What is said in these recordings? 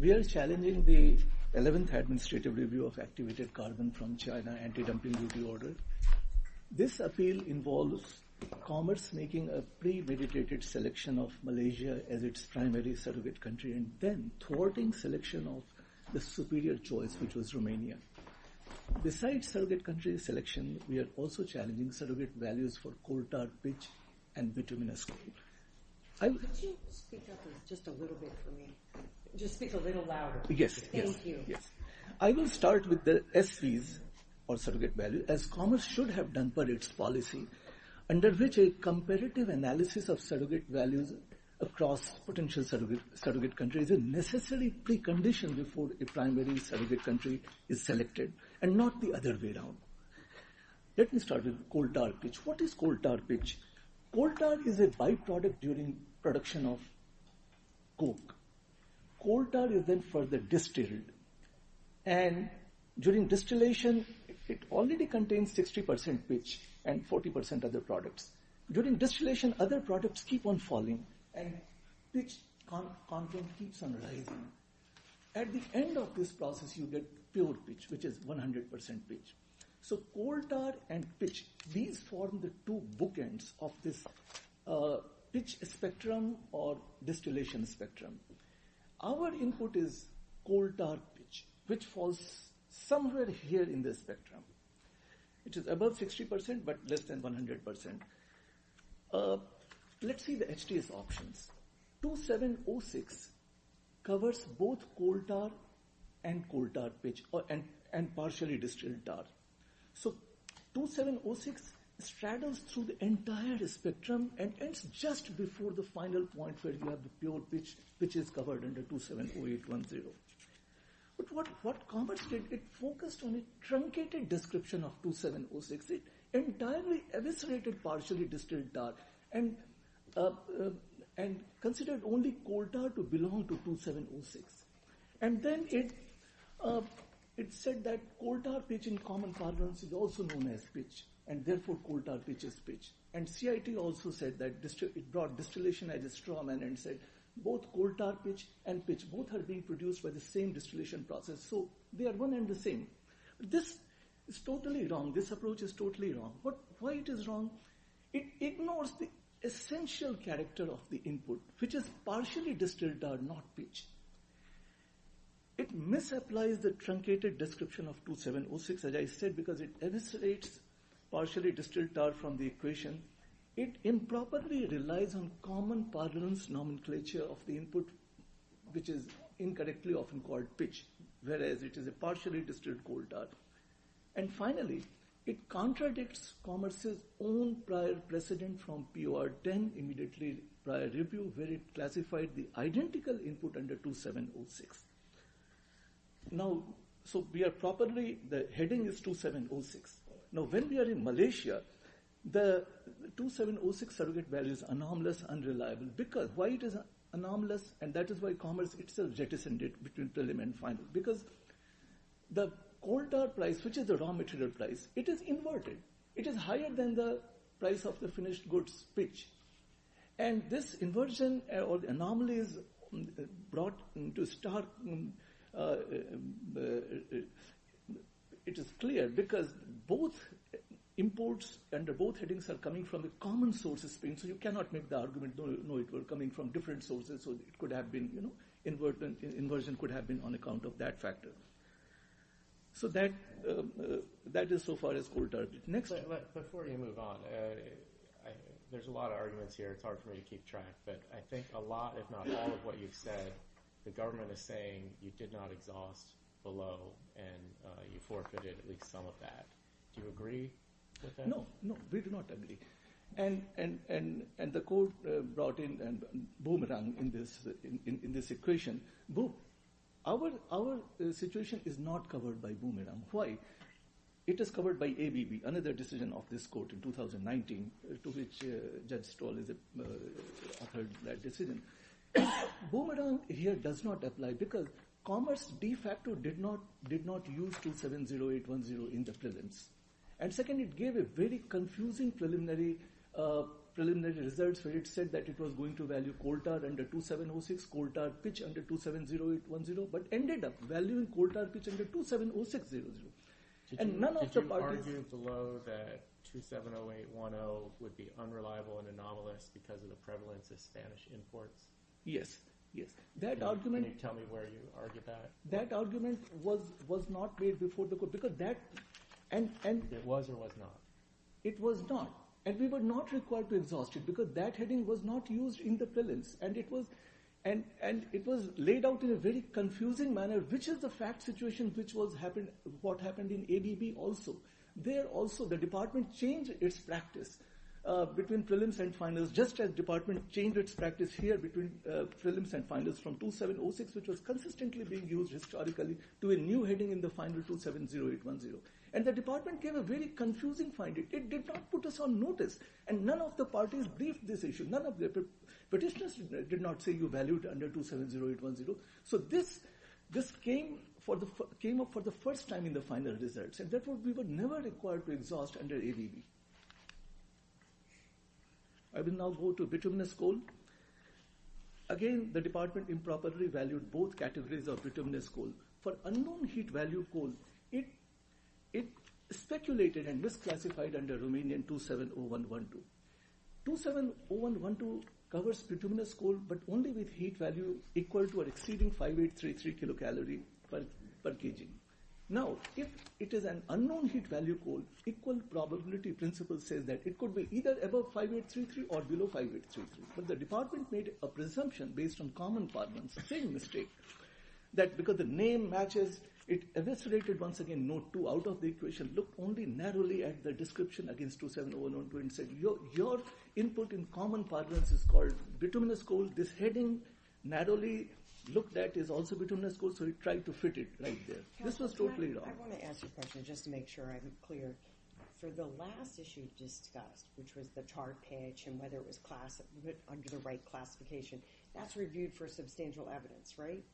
We are challenging the 11th Administrative Review of Activated Carbon from China, anti-dumping duty order. This appeal involves commerce making a premeditated selection of Malaysia as its primary surrogate country, and then thwarting selection of the superior choice, which was Romania. Besides surrogate country selection, we are also challenging surrogate values for coal tar, pitch, and bituminous coal. I will start with the SPs, as commerce should have done per its policy, under which a comparative analysis of surrogate values across potential surrogate countries is necessarily preconditioned before a primary surrogate country is selected, and not the other way around. Let me start with coal tar pitch. What is coal tar pitch? Coal tar is a by-product during production of coke. Coal tar is then further distilled, and during distillation, it already contains 60% pitch and 40% of the products. During distillation, other products keep on falling, and pitch content keeps on rising. At the end of this process, you get pure pitch, which is 100% pitch. So coal tar and pitch, these form the two bookends of this pitch spectrum or distillation spectrum. Our input is coal tar pitch, which falls somewhere here in this spectrum. It is above 60%, but less than 100%. Let's see the HDS options. 2706 covers both coal tar and partially distilled tar. So 2706 straddles through the entire spectrum and ends just before the final point where you have the pure pitch, which is covered under 270810. But what Commerce did, it focused on a truncated description of 2706. It entirely eviscerated partially distilled tar, and considered only coal tar to belong to 2706. And then it said that coal tar pitch in common carbons is also known as pitch, and therefore coal tar pitch is pitch. And CIT also said that it brought distillation as a strawman and said both coal tar pitch and pitch, both are being produced by the same distillation process, so they are one and the same. This is totally wrong, this approach is totally wrong. Why it is wrong? It ignores the essential character of the input, which is partially distilled tar, not pitch. It misapplies the truncated description of 2706, as I said, because it eviscerates partially distilled tar from the equation. It improperly relies on common parlance nomenclature of the input, which is incorrectly often called pitch, whereas it is a partially distilled coal tar. And finally, it contradicts Commerce's own prior precedent from POR10, immediately prior review, where it classified the identical input under 2706. Now, so we are properly, the heading is 2706. Now, when we are in Malaysia, the 2706 surrogate value is anomalous, unreliable, because why it is anomalous, and that is why Commerce itself jettisoned it between preliminary and final, because the coal tar price, which is the raw material price, it is inverted. It is higher than the price of the finished goods pitch. And this inversion or anomalies brought to start, it is clear, because both imports under both headings are coming from the common sources, so you cannot make the argument, no, it were coming from different sources, so it could have been, you know, inversion could have been on account of that factor. So that is so far as coal tar. Next. Before you move on, there is a lot of arguments here, it is hard for me to keep track, but I think a lot, if not all of what you have said, the government is saying you did not exhaust below and you forfeited at least some of that. Do you agree with that? No, no, we do not agree. And the court brought in Boomerang in this equation. Our situation is not covered by Boomerang. Why? Because it is covered by ABB, another decision of this court in 2019, to which Judge Stoll authored that decision. Boomerang here does not apply, because Commerce de facto did not use 270810 in the prelims. And second, it gave a very confusing preliminary results where it said that it was going to Did you argue below that 270810 would be unreliable and anomalous because of the prevalence of Spanish imports? Yes, yes. Can you tell me where you argued that? That argument was not made before the court. It was or was not? It was not. And we were not required to exhaust it, because that heading was not used in the prelims. And it was laid out in a very confusing manner. Which is the fact situation which was what happened in ABB also. There also the department changed its practice between prelims and finals, just as department changed its practice here between prelims and finals from 2706, which was consistently being used historically, to a new heading in the final 270810. And the department gave a very confusing finding. It did not put us on notice. And none of the parties briefed this issue. None of the petitioners did not say you valued under 270810. So this came up for the first time in the final results. And therefore we were never required to exhaust under ABB. I will now go to bituminous coal. Again, the department improperly valued both categories of bituminous coal. For unknown heat value coal, it speculated and misclassified under Romanian 270112. 270112 covers bituminous coal, but only with heat value equal to or exceeding 5833 kilocalories per kg. Now, if it is an unknown heat value coal, equal probability principle says that it could be either above 5833 or below 5833. But the department made a presumption based on common parlance, the same mistake, that because the name matches, it eviscerated once again node 2 out of the equation, looked only narrowly at the description against 270112 and said, your input in common parlance is called bituminous coal. This heading, narrowly looked at, is also bituminous coal. So it tried to fit it right there. This was totally wrong. I want to ask you a question, just to make sure I'm clear. For the last issue discussed, which was the chart pitch and whether it was class, under the right classification, that's reviewed for substantial evidence, right?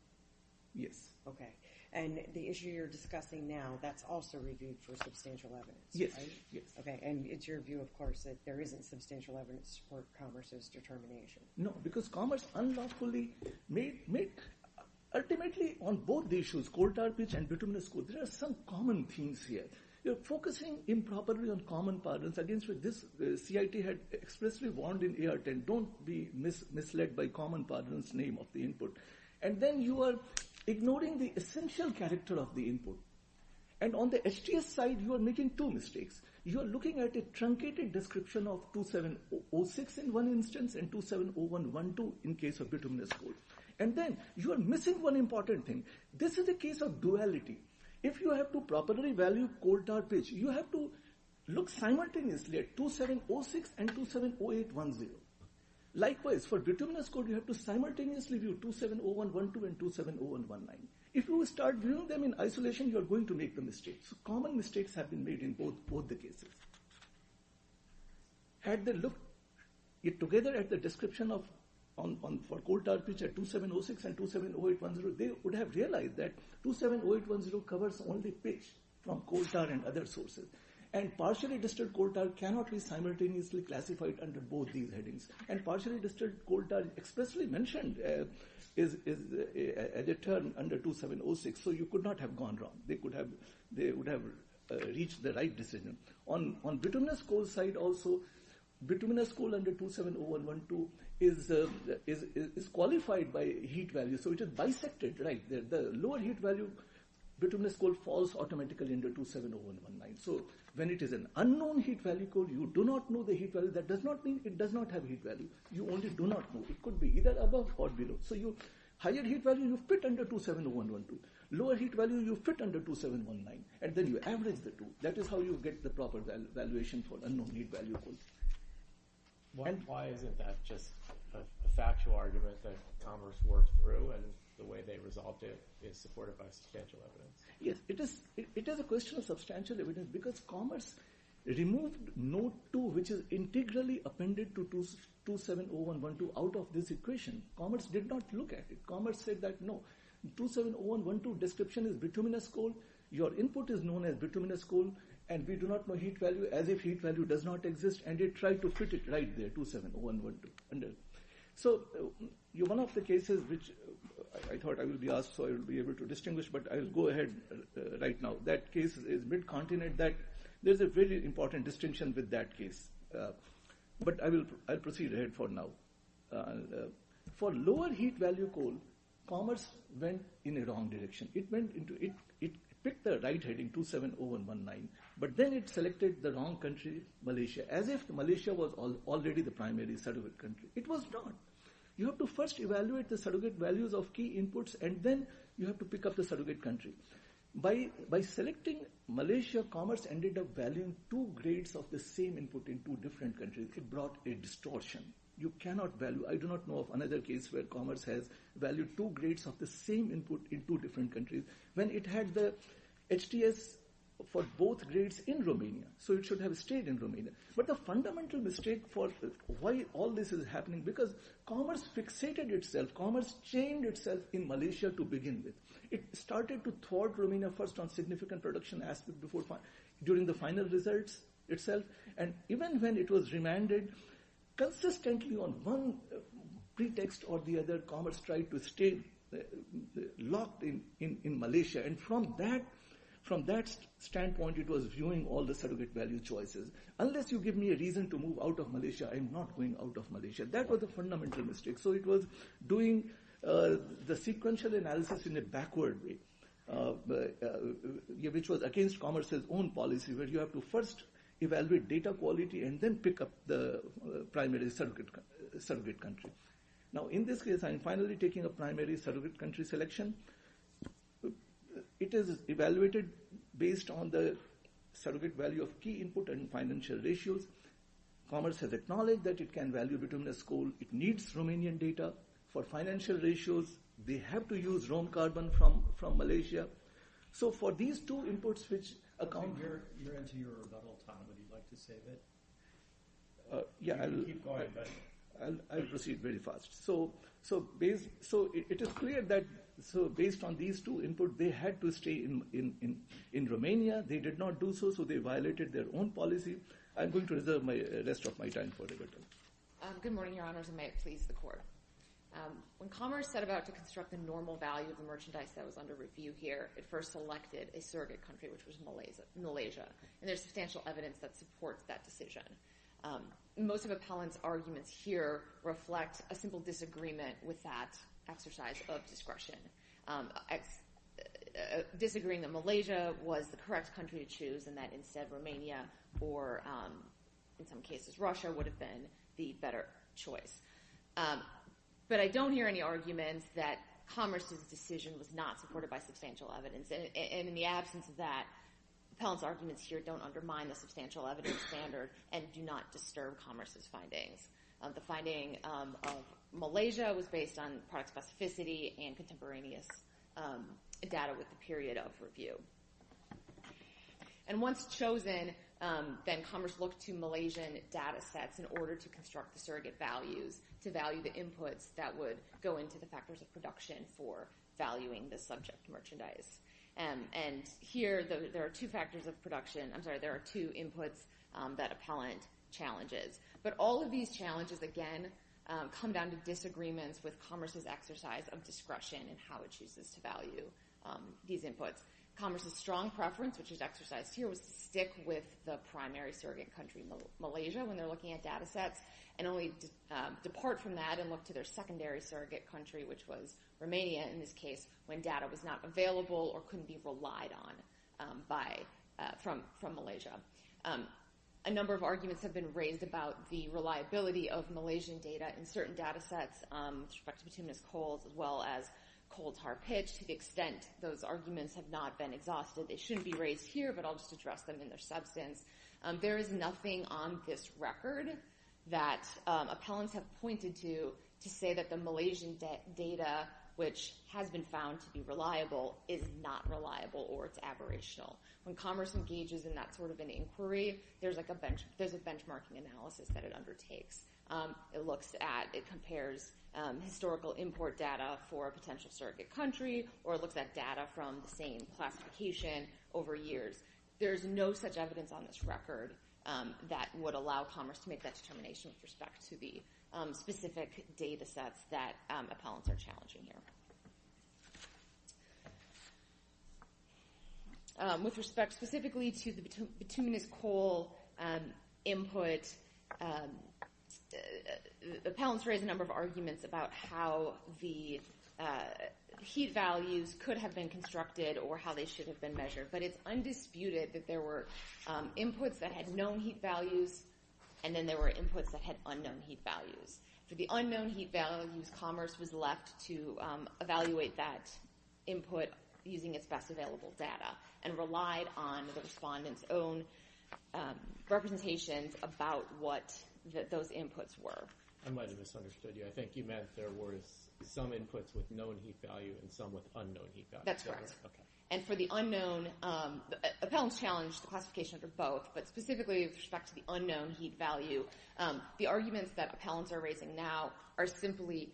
Yes. Okay. And the issue you're discussing now, that's also reviewed for substantial evidence, right? Yes. Yes. Okay. And it's your view, of course, that there isn't substantial evidence to support Commerce's determination. No, because Commerce unlawfully made, ultimately on both the issues, coal tar pitch and bituminous coal, there are some common themes here. You're focusing improperly on common parlance against what this CIT had expressly warned in AR 10, don't be misled by common parlance name of the input. And then you are ignoring the essential character of the input. And on the HDS side, you are making two mistakes. You are looking at a truncated description of 2706 in one instance and 270112 in case of bituminous coal. And then you are missing one important thing. This is a case of duality. If you have to properly value coal tar pitch, you have to look simultaneously at 2706 and 270810. Likewise, for bituminous coal, you have to simultaneously view 270112 and 270119. If you start viewing them in isolation, you are going to make the mistakes. Common mistakes have been made in both the cases. Had they looked together at the description for coal tar pitch at 2706 and 270810, they would have realized that 270810 covers only pitch from coal tar and other sources. And partially distilled coal tar cannot be simultaneously classified under both these headings. And partially distilled coal tar, expressly mentioned, is a term under 2706. So you could not have gone wrong. They would have reached the right decision. On bituminous coal side also, bituminous coal under 270112 is qualified by heat value. So it is bisected. The lower heat value, bituminous coal falls automatically under 270119. So when it is an unknown heat value coal, you do not know the heat value. That does not mean it does not have heat value. You only do not know. It could be either above or below. So higher heat value, you fit under 270112. Lower heat value, you fit under 270119. And then you average the two. That is how you get the proper valuation for unknown heat value coal. And why isn't that just a factual argument that Congress worked through and the way they resolved it is supported by substantial evidence? Yes. It is a question of substantial evidence because Congress removed node 2, which is integrally appended to 270112 out of this equation. Commerce did not look at it. Commerce said that no, 270112 description is bituminous coal. Your input is known as bituminous coal. And we do not know heat value as if heat value does not exist. And they tried to fit it right there, 270112. So one of the cases which I thought I will be asked so I will be able to distinguish, but I will go ahead right now. That case is mid-continent that there is a very important distinction with that case. But I will proceed ahead for now. For lower heat value coal, commerce went in a wrong direction. It picked the right heading, 270119, but then it selected the wrong country, Malaysia, as if Malaysia was already the primary surrogate country. It was not. You have to first evaluate the surrogate values of key inputs and then you have to pick up the surrogate country. By selecting Malaysia, commerce ended up valuing two grades of the same input in two different countries. It brought a distortion. You cannot value, I do not know of another case where commerce has valued two grades of the same input in two different countries when it had the HTS for both grades in Romania. So it should have stayed in Romania. But the fundamental mistake for why all this is happening, because commerce fixated itself, commerce chained itself in Malaysia to begin with. It started to thwart Romania first on significant production aspects during the final results itself. And even when it was remanded, consistently on one pretext or the other, commerce tried to stay locked in Malaysia. And from that standpoint, it was viewing all the surrogate value choices. Unless you give me a reason to move out of Malaysia, I am not going out of Malaysia. That was a fundamental mistake. So it was doing the sequential analysis in a backward way, which was against commerce's own policy, where you have to first evaluate data quality and then pick up the primary surrogate country. Now, in this case, I am finally taking a primary surrogate country selection. It is evaluated based on the surrogate value of key input and financial ratios. Commerce has acknowledged that it can value bituminous coal. It needs Romanian data for financial ratios. They have to use Rome carbon from Malaysia. So for these two inputs, which account— You're into your rebuttal time. Would you like to say that? Yeah, I'll— You can keep going, but— I'll proceed very fast. So it is clear that based on these two inputs, they had to stay in Romania. They did not do so, so they violated their own policy. I'm going to reserve the rest of my time for rebuttal. Good morning, Your Honors, and may it please the Court. When commerce set about to construct the normal value of the merchandise that was under review here, it first selected a surrogate country, which was Malaysia, and there's substantial evidence that supports that decision. Most of Appellant's arguments here reflect a simple disagreement with that exercise of discretion, disagreeing that Malaysia was the correct country to choose and that instead Romania or, in some cases, Russia would have been the better choice. But I don't hear any arguments that commerce's decision was not supported by substantial evidence, and in the absence of that, Appellant's arguments here don't undermine the substantial evidence standard and do not disturb commerce's findings. The finding of Malaysia was based on product specificity and contemporaneous data with the period of review. And once chosen, then commerce looked to Malaysian data sets in order to construct the surrogate values to value the inputs that would go into the factors of production for valuing the subject merchandise. And here, there are two factors of production, I'm sorry, there are two inputs that Appellant challenges. But all of these challenges, again, come down to disagreements with commerce's exercise of discretion and how it chooses to value these inputs. Commerce's strong preference, which is exercised here, was to stick with the primary surrogate country, Malaysia, when they're looking at data sets, and only depart from that and look to their secondary surrogate country, which was Romania, in this case, when data was not available or couldn't be relied on from Malaysia. A number of arguments have been raised about the reliability of Malaysian data in certain data sets with respect to Petunias Coals, as well as coal tar pitch, to the extent those arguments have not been exhausted. They shouldn't be raised here, but I'll just address them in their substance. There is nothing on this record that Appellants have pointed to to say that the Malaysian data, which has been found to be reliable, is not reliable or it's aberrational. When commerce engages in that sort of an inquiry, there's a benchmarking analysis that it undertakes. It compares historical import data for a potential surrogate country, or it looks at data from the same classification over years. There's no such evidence on this record that would allow commerce to make that determination with respect to the specific data sets that Appellants are challenging here. With respect specifically to the Petunias Coal input, Appellants raised a number of arguments about how the heat values could have been constructed or how they should have been measured. But it's undisputed that there were inputs that had known heat values, and then there were inputs that had unknown heat values. For the unknown heat values, Commerce was left to evaluate that input using its best available data and relied on the respondent's own representations about what those inputs were. I might have misunderstood you. I think you meant there were some inputs with known heat value and some with unknown heat value. That's correct. And for the unknown, Appellants challenged the classification for both, but specifically with respect to the unknown heat value. The arguments that Appellants are raising now are simply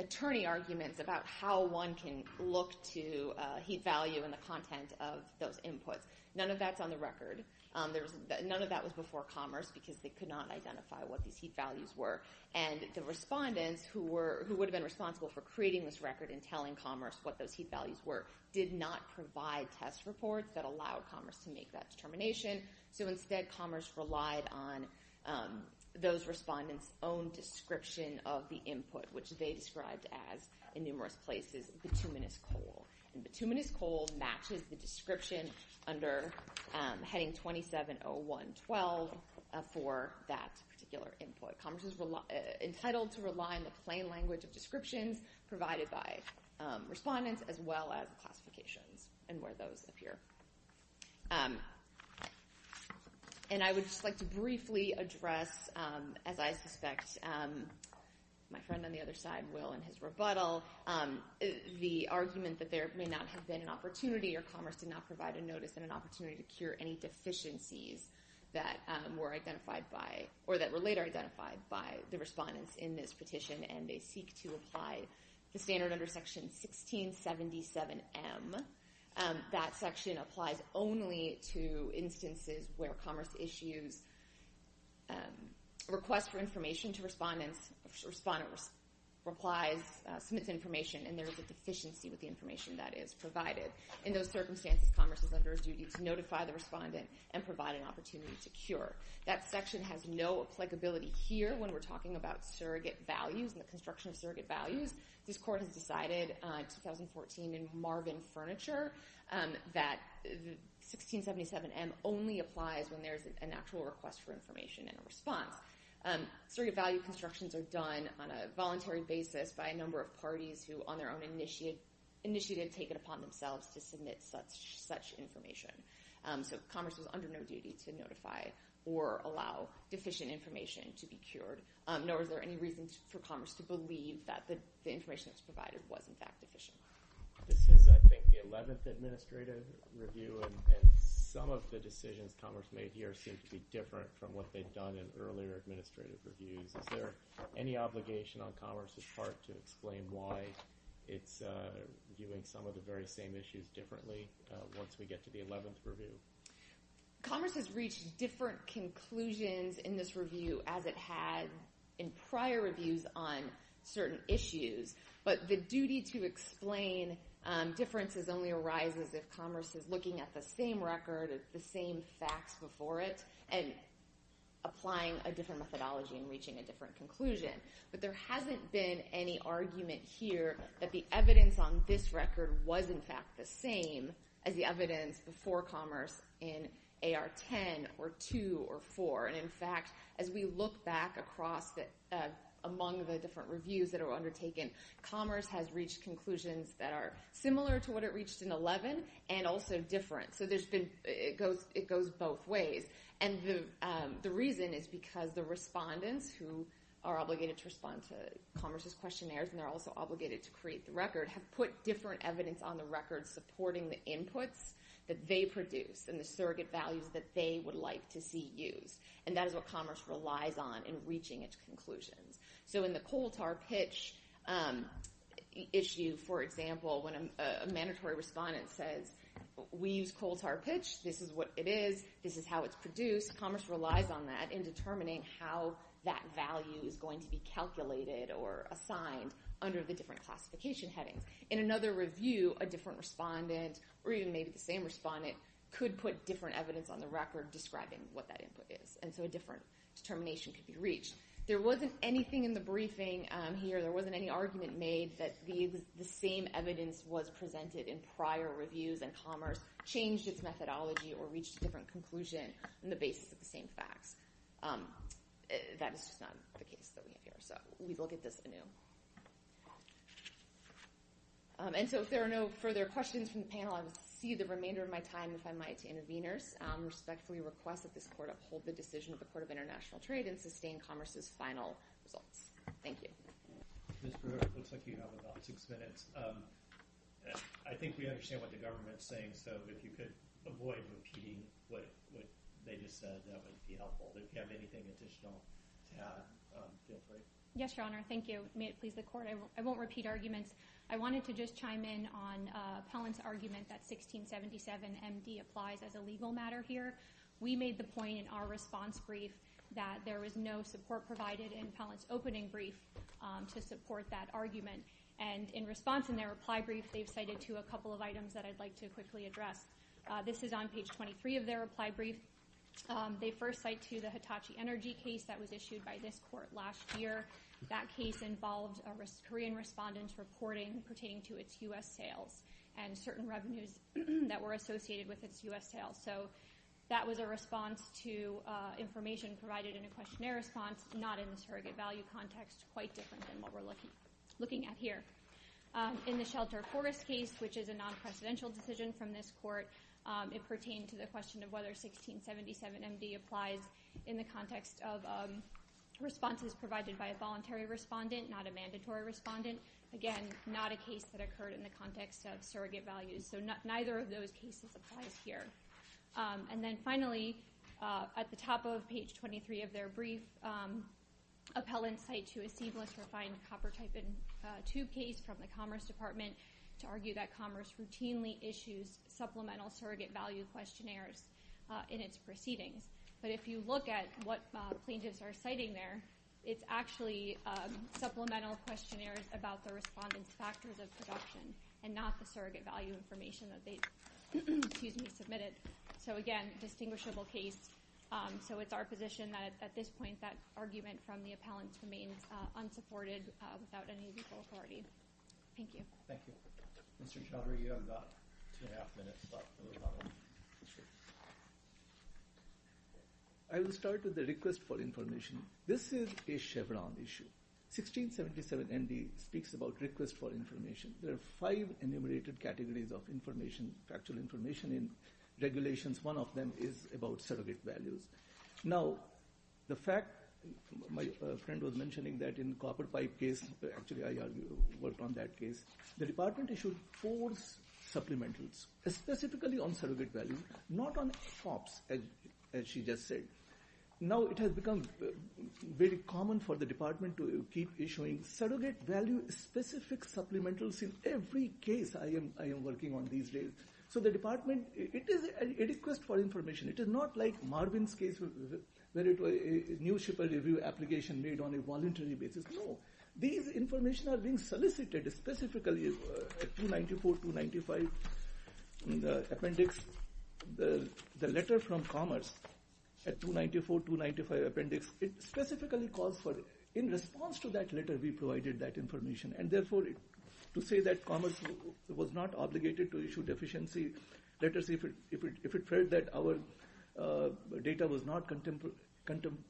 attorney arguments about how one can look to heat value and the content of those inputs. None of that's on the record. None of that was before Commerce because they could not identify what these heat values were. And the respondents who would have been responsible for creating this record and telling Commerce what those heat values were did not provide test reports that allowed Commerce to make that determination. So instead, Commerce relied on those respondents' own description of the input, which they described as, in numerous places, bituminous coal. And bituminous coal matches the description under heading 2701.12 for that particular input. Commerce is entitled to rely on the plain language of descriptions provided by respondents as well as classifications and where those appear. And I would just like to briefly address, as I suspect my friend on the other side will in his rebuttal, the argument that there may not have been an opportunity or Commerce did not provide a notice and an opportunity to cure any deficiencies that were later identified by the respondents in this petition. And they seek to apply the standard under Section 1677M. That section applies only to instances where Commerce issues a request for information to respondents, or submits information, and there is a deficiency with the information that is provided. In those circumstances, Commerce is under a duty to notify the respondent and provide an opportunity to cure. That section has no applicability here when we're talking about surrogate values and the construction of surrogate values. This Court has decided in 2014 in Marvin Furniture that 1677M only applies when there is an actual request for information and a response. Surrogate value constructions are done on a voluntary basis by a number of parties who on their own initiative take it upon themselves to submit such information. So Commerce is under no duty to notify or allow deficient information to be cured, nor is there any reason for Commerce to believe that the information that's provided was in fact deficient. This is, I think, the 11th administrative review, and some of the decisions Commerce made here seem to be different from what they've done in earlier administrative reviews. Is there any obligation on Commerce's part to explain why it's viewing some of the very Commerce has reached different conclusions in this review as it had in prior reviews on certain issues, but the duty to explain differences only arises if Commerce is looking at the same record, the same facts before it, and applying a different methodology and reaching a different conclusion. But there hasn't been any argument here that the evidence on this record was in fact the same as the evidence before Commerce in AR 10 or 2 or 4. And in fact, as we look back across among the different reviews that are undertaken, Commerce has reached conclusions that are similar to what it reached in 11 and also different. So it goes both ways. And the reason is because the respondents who are obligated to respond to Commerce's questionnaires, and they're also obligated to create the record, have put different evidence on the record supporting the inputs that they produce and the surrogate values that they would like to see used. And that is what Commerce relies on in reaching its conclusions. So in the coal tar pitch issue, for example, when a mandatory respondent says, we use coal tar pitch. This is what it is. This is how it's produced. Commerce relies on that in determining how that value is going to be calculated or assigned under the different classification headings. In another review, a different respondent, or even maybe the same respondent, could put different evidence on the record describing what that input is. And so a different determination could be reached. There wasn't anything in the briefing here, there wasn't any argument made that the same evidence was presented in prior reviews and Commerce changed its methodology or reached a different conclusion on the basis of the same facts. That is just not the case that we have here. So we will get this anew. And so if there are no further questions from the panel, I will cede the remainder of my time, if I might, to interveners. I respectfully request that this Court uphold the decision of the Court of International Trade and sustain Commerce's final results. Thank you. Ms. Brewer, it looks like you have about six minutes. I think we understand what the government is saying, so if you could avoid repeating what they just said, that would be helpful. If you have anything additional to add, feel free. Yes, Your Honor. Thank you. May it please the Court. I won't repeat arguments. I wanted to just chime in on Appellant's argument that 1677MD applies as a legal matter here. We made the point in our response brief that there was no support provided in Appellant's opening brief to support that argument. And in response, in their reply brief, they've cited to a couple of items that I'd like to quickly address. This is on page 23 of their reply brief. They first cite to the Hitachi Energy case that was issued by this Court last year. That case involved a Korean respondent reporting pertaining to its U.S. sales and certain revenues that were associated with its U.S. sales. So that was a response to information provided in a questionnaire response, not in the surrogate value context, quite different than what we're looking at here. In the Shelter Forest case, which is a non-presidential decision from this Court, it pertained to the question of whether 1677MD applies in the context of responses provided by a voluntary respondent, not a mandatory respondent. Again, not a case that occurred in the context of surrogate values. So neither of those cases applies here. And then finally, at the top of page 23 of their brief, Appellant cite to a seamless refined copper-type tube case from the Commerce Department to argue that Commerce routinely issues supplemental surrogate value questionnaires in its proceedings. But if you look at what plaintiffs are citing there, it's actually supplemental questionnaires about the respondent's factors of production and not the surrogate value information that they submitted. So again, a distinguishable case. So it's our position that at this point that argument from the appellants remains unsupported without any legal authority. Thank you. Mr. Chaudhary, you have about two and a half minutes left. I will start with the request for information. This is a Chevron issue. 1677MD speaks about request for information. There are five enumerated categories of information, factual information in regulations. One of them is about surrogate values. Now, the fact, my friend was mentioning that in the copper-type case, actually I worked on that case, the department issued four supplementals, specifically on surrogate value, not on shops, as she just said. Now, it has become very common for the department to keep issuing surrogate value-specific supplementals in every case I am working on these days. So the department, it is a request for information. It is not like Marvin's case where it was a New Shipper Review application made on a voluntary basis. No. These information are being solicited specifically at 294-295 in the appendix. The letter from Commerce at 294-295 appendix, it specifically calls for, in response to that letter, we provided that information. And therefore, to say that Commerce was not obligated to issue deficiency letters if it felt that our data was not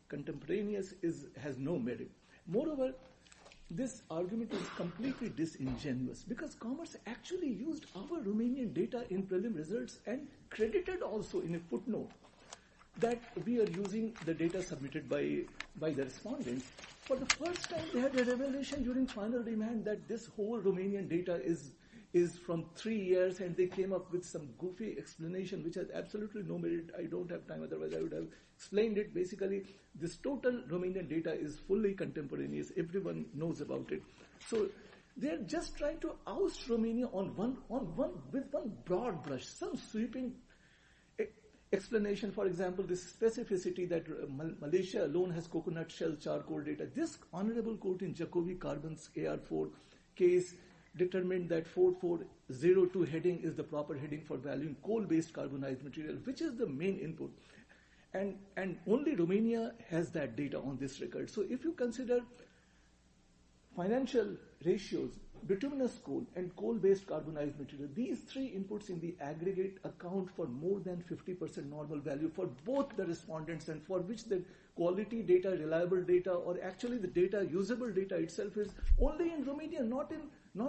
contemporaneous has no merit. Moreover, this argument is completely disingenuous because Commerce actually used our Romanian data in prelim results and credited also in a footnote that we are using the data submitted by the respondents. For the first time, they had a revelation during final demand that this whole Romanian data is from three years and they came up with some goofy explanation which has absolutely no merit. I don't have time. Otherwise, I would have explained it. But basically, this total Romanian data is fully contemporaneous. Everyone knows about it. So they are just trying to oust Romania with one broad brush, some sweeping explanation. For example, this specificity that Malaysia alone has coconut shell charcoal data. This honorable quote in Jacobi Carbon's AR4 case determined that 4402 heading is the proper heading for valuing coal-based carbonized material, which is the main input. And only Romania has that data on this record. So if you consider financial ratios, bituminous coal, and coal-based carbonized material, these three inputs in the aggregate account for more than 50% normal value for both the respondents and for which the quality data, reliable data, or actually the data, usable data itself is only in Romania, not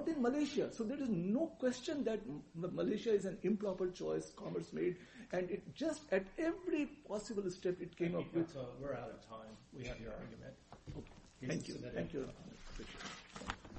in Malaysia. So there is no question that Malaysia is an improper choice Commerce made. And just at every possible step, it came up with... We're out of time. We have your argument. Thank you. Thank you.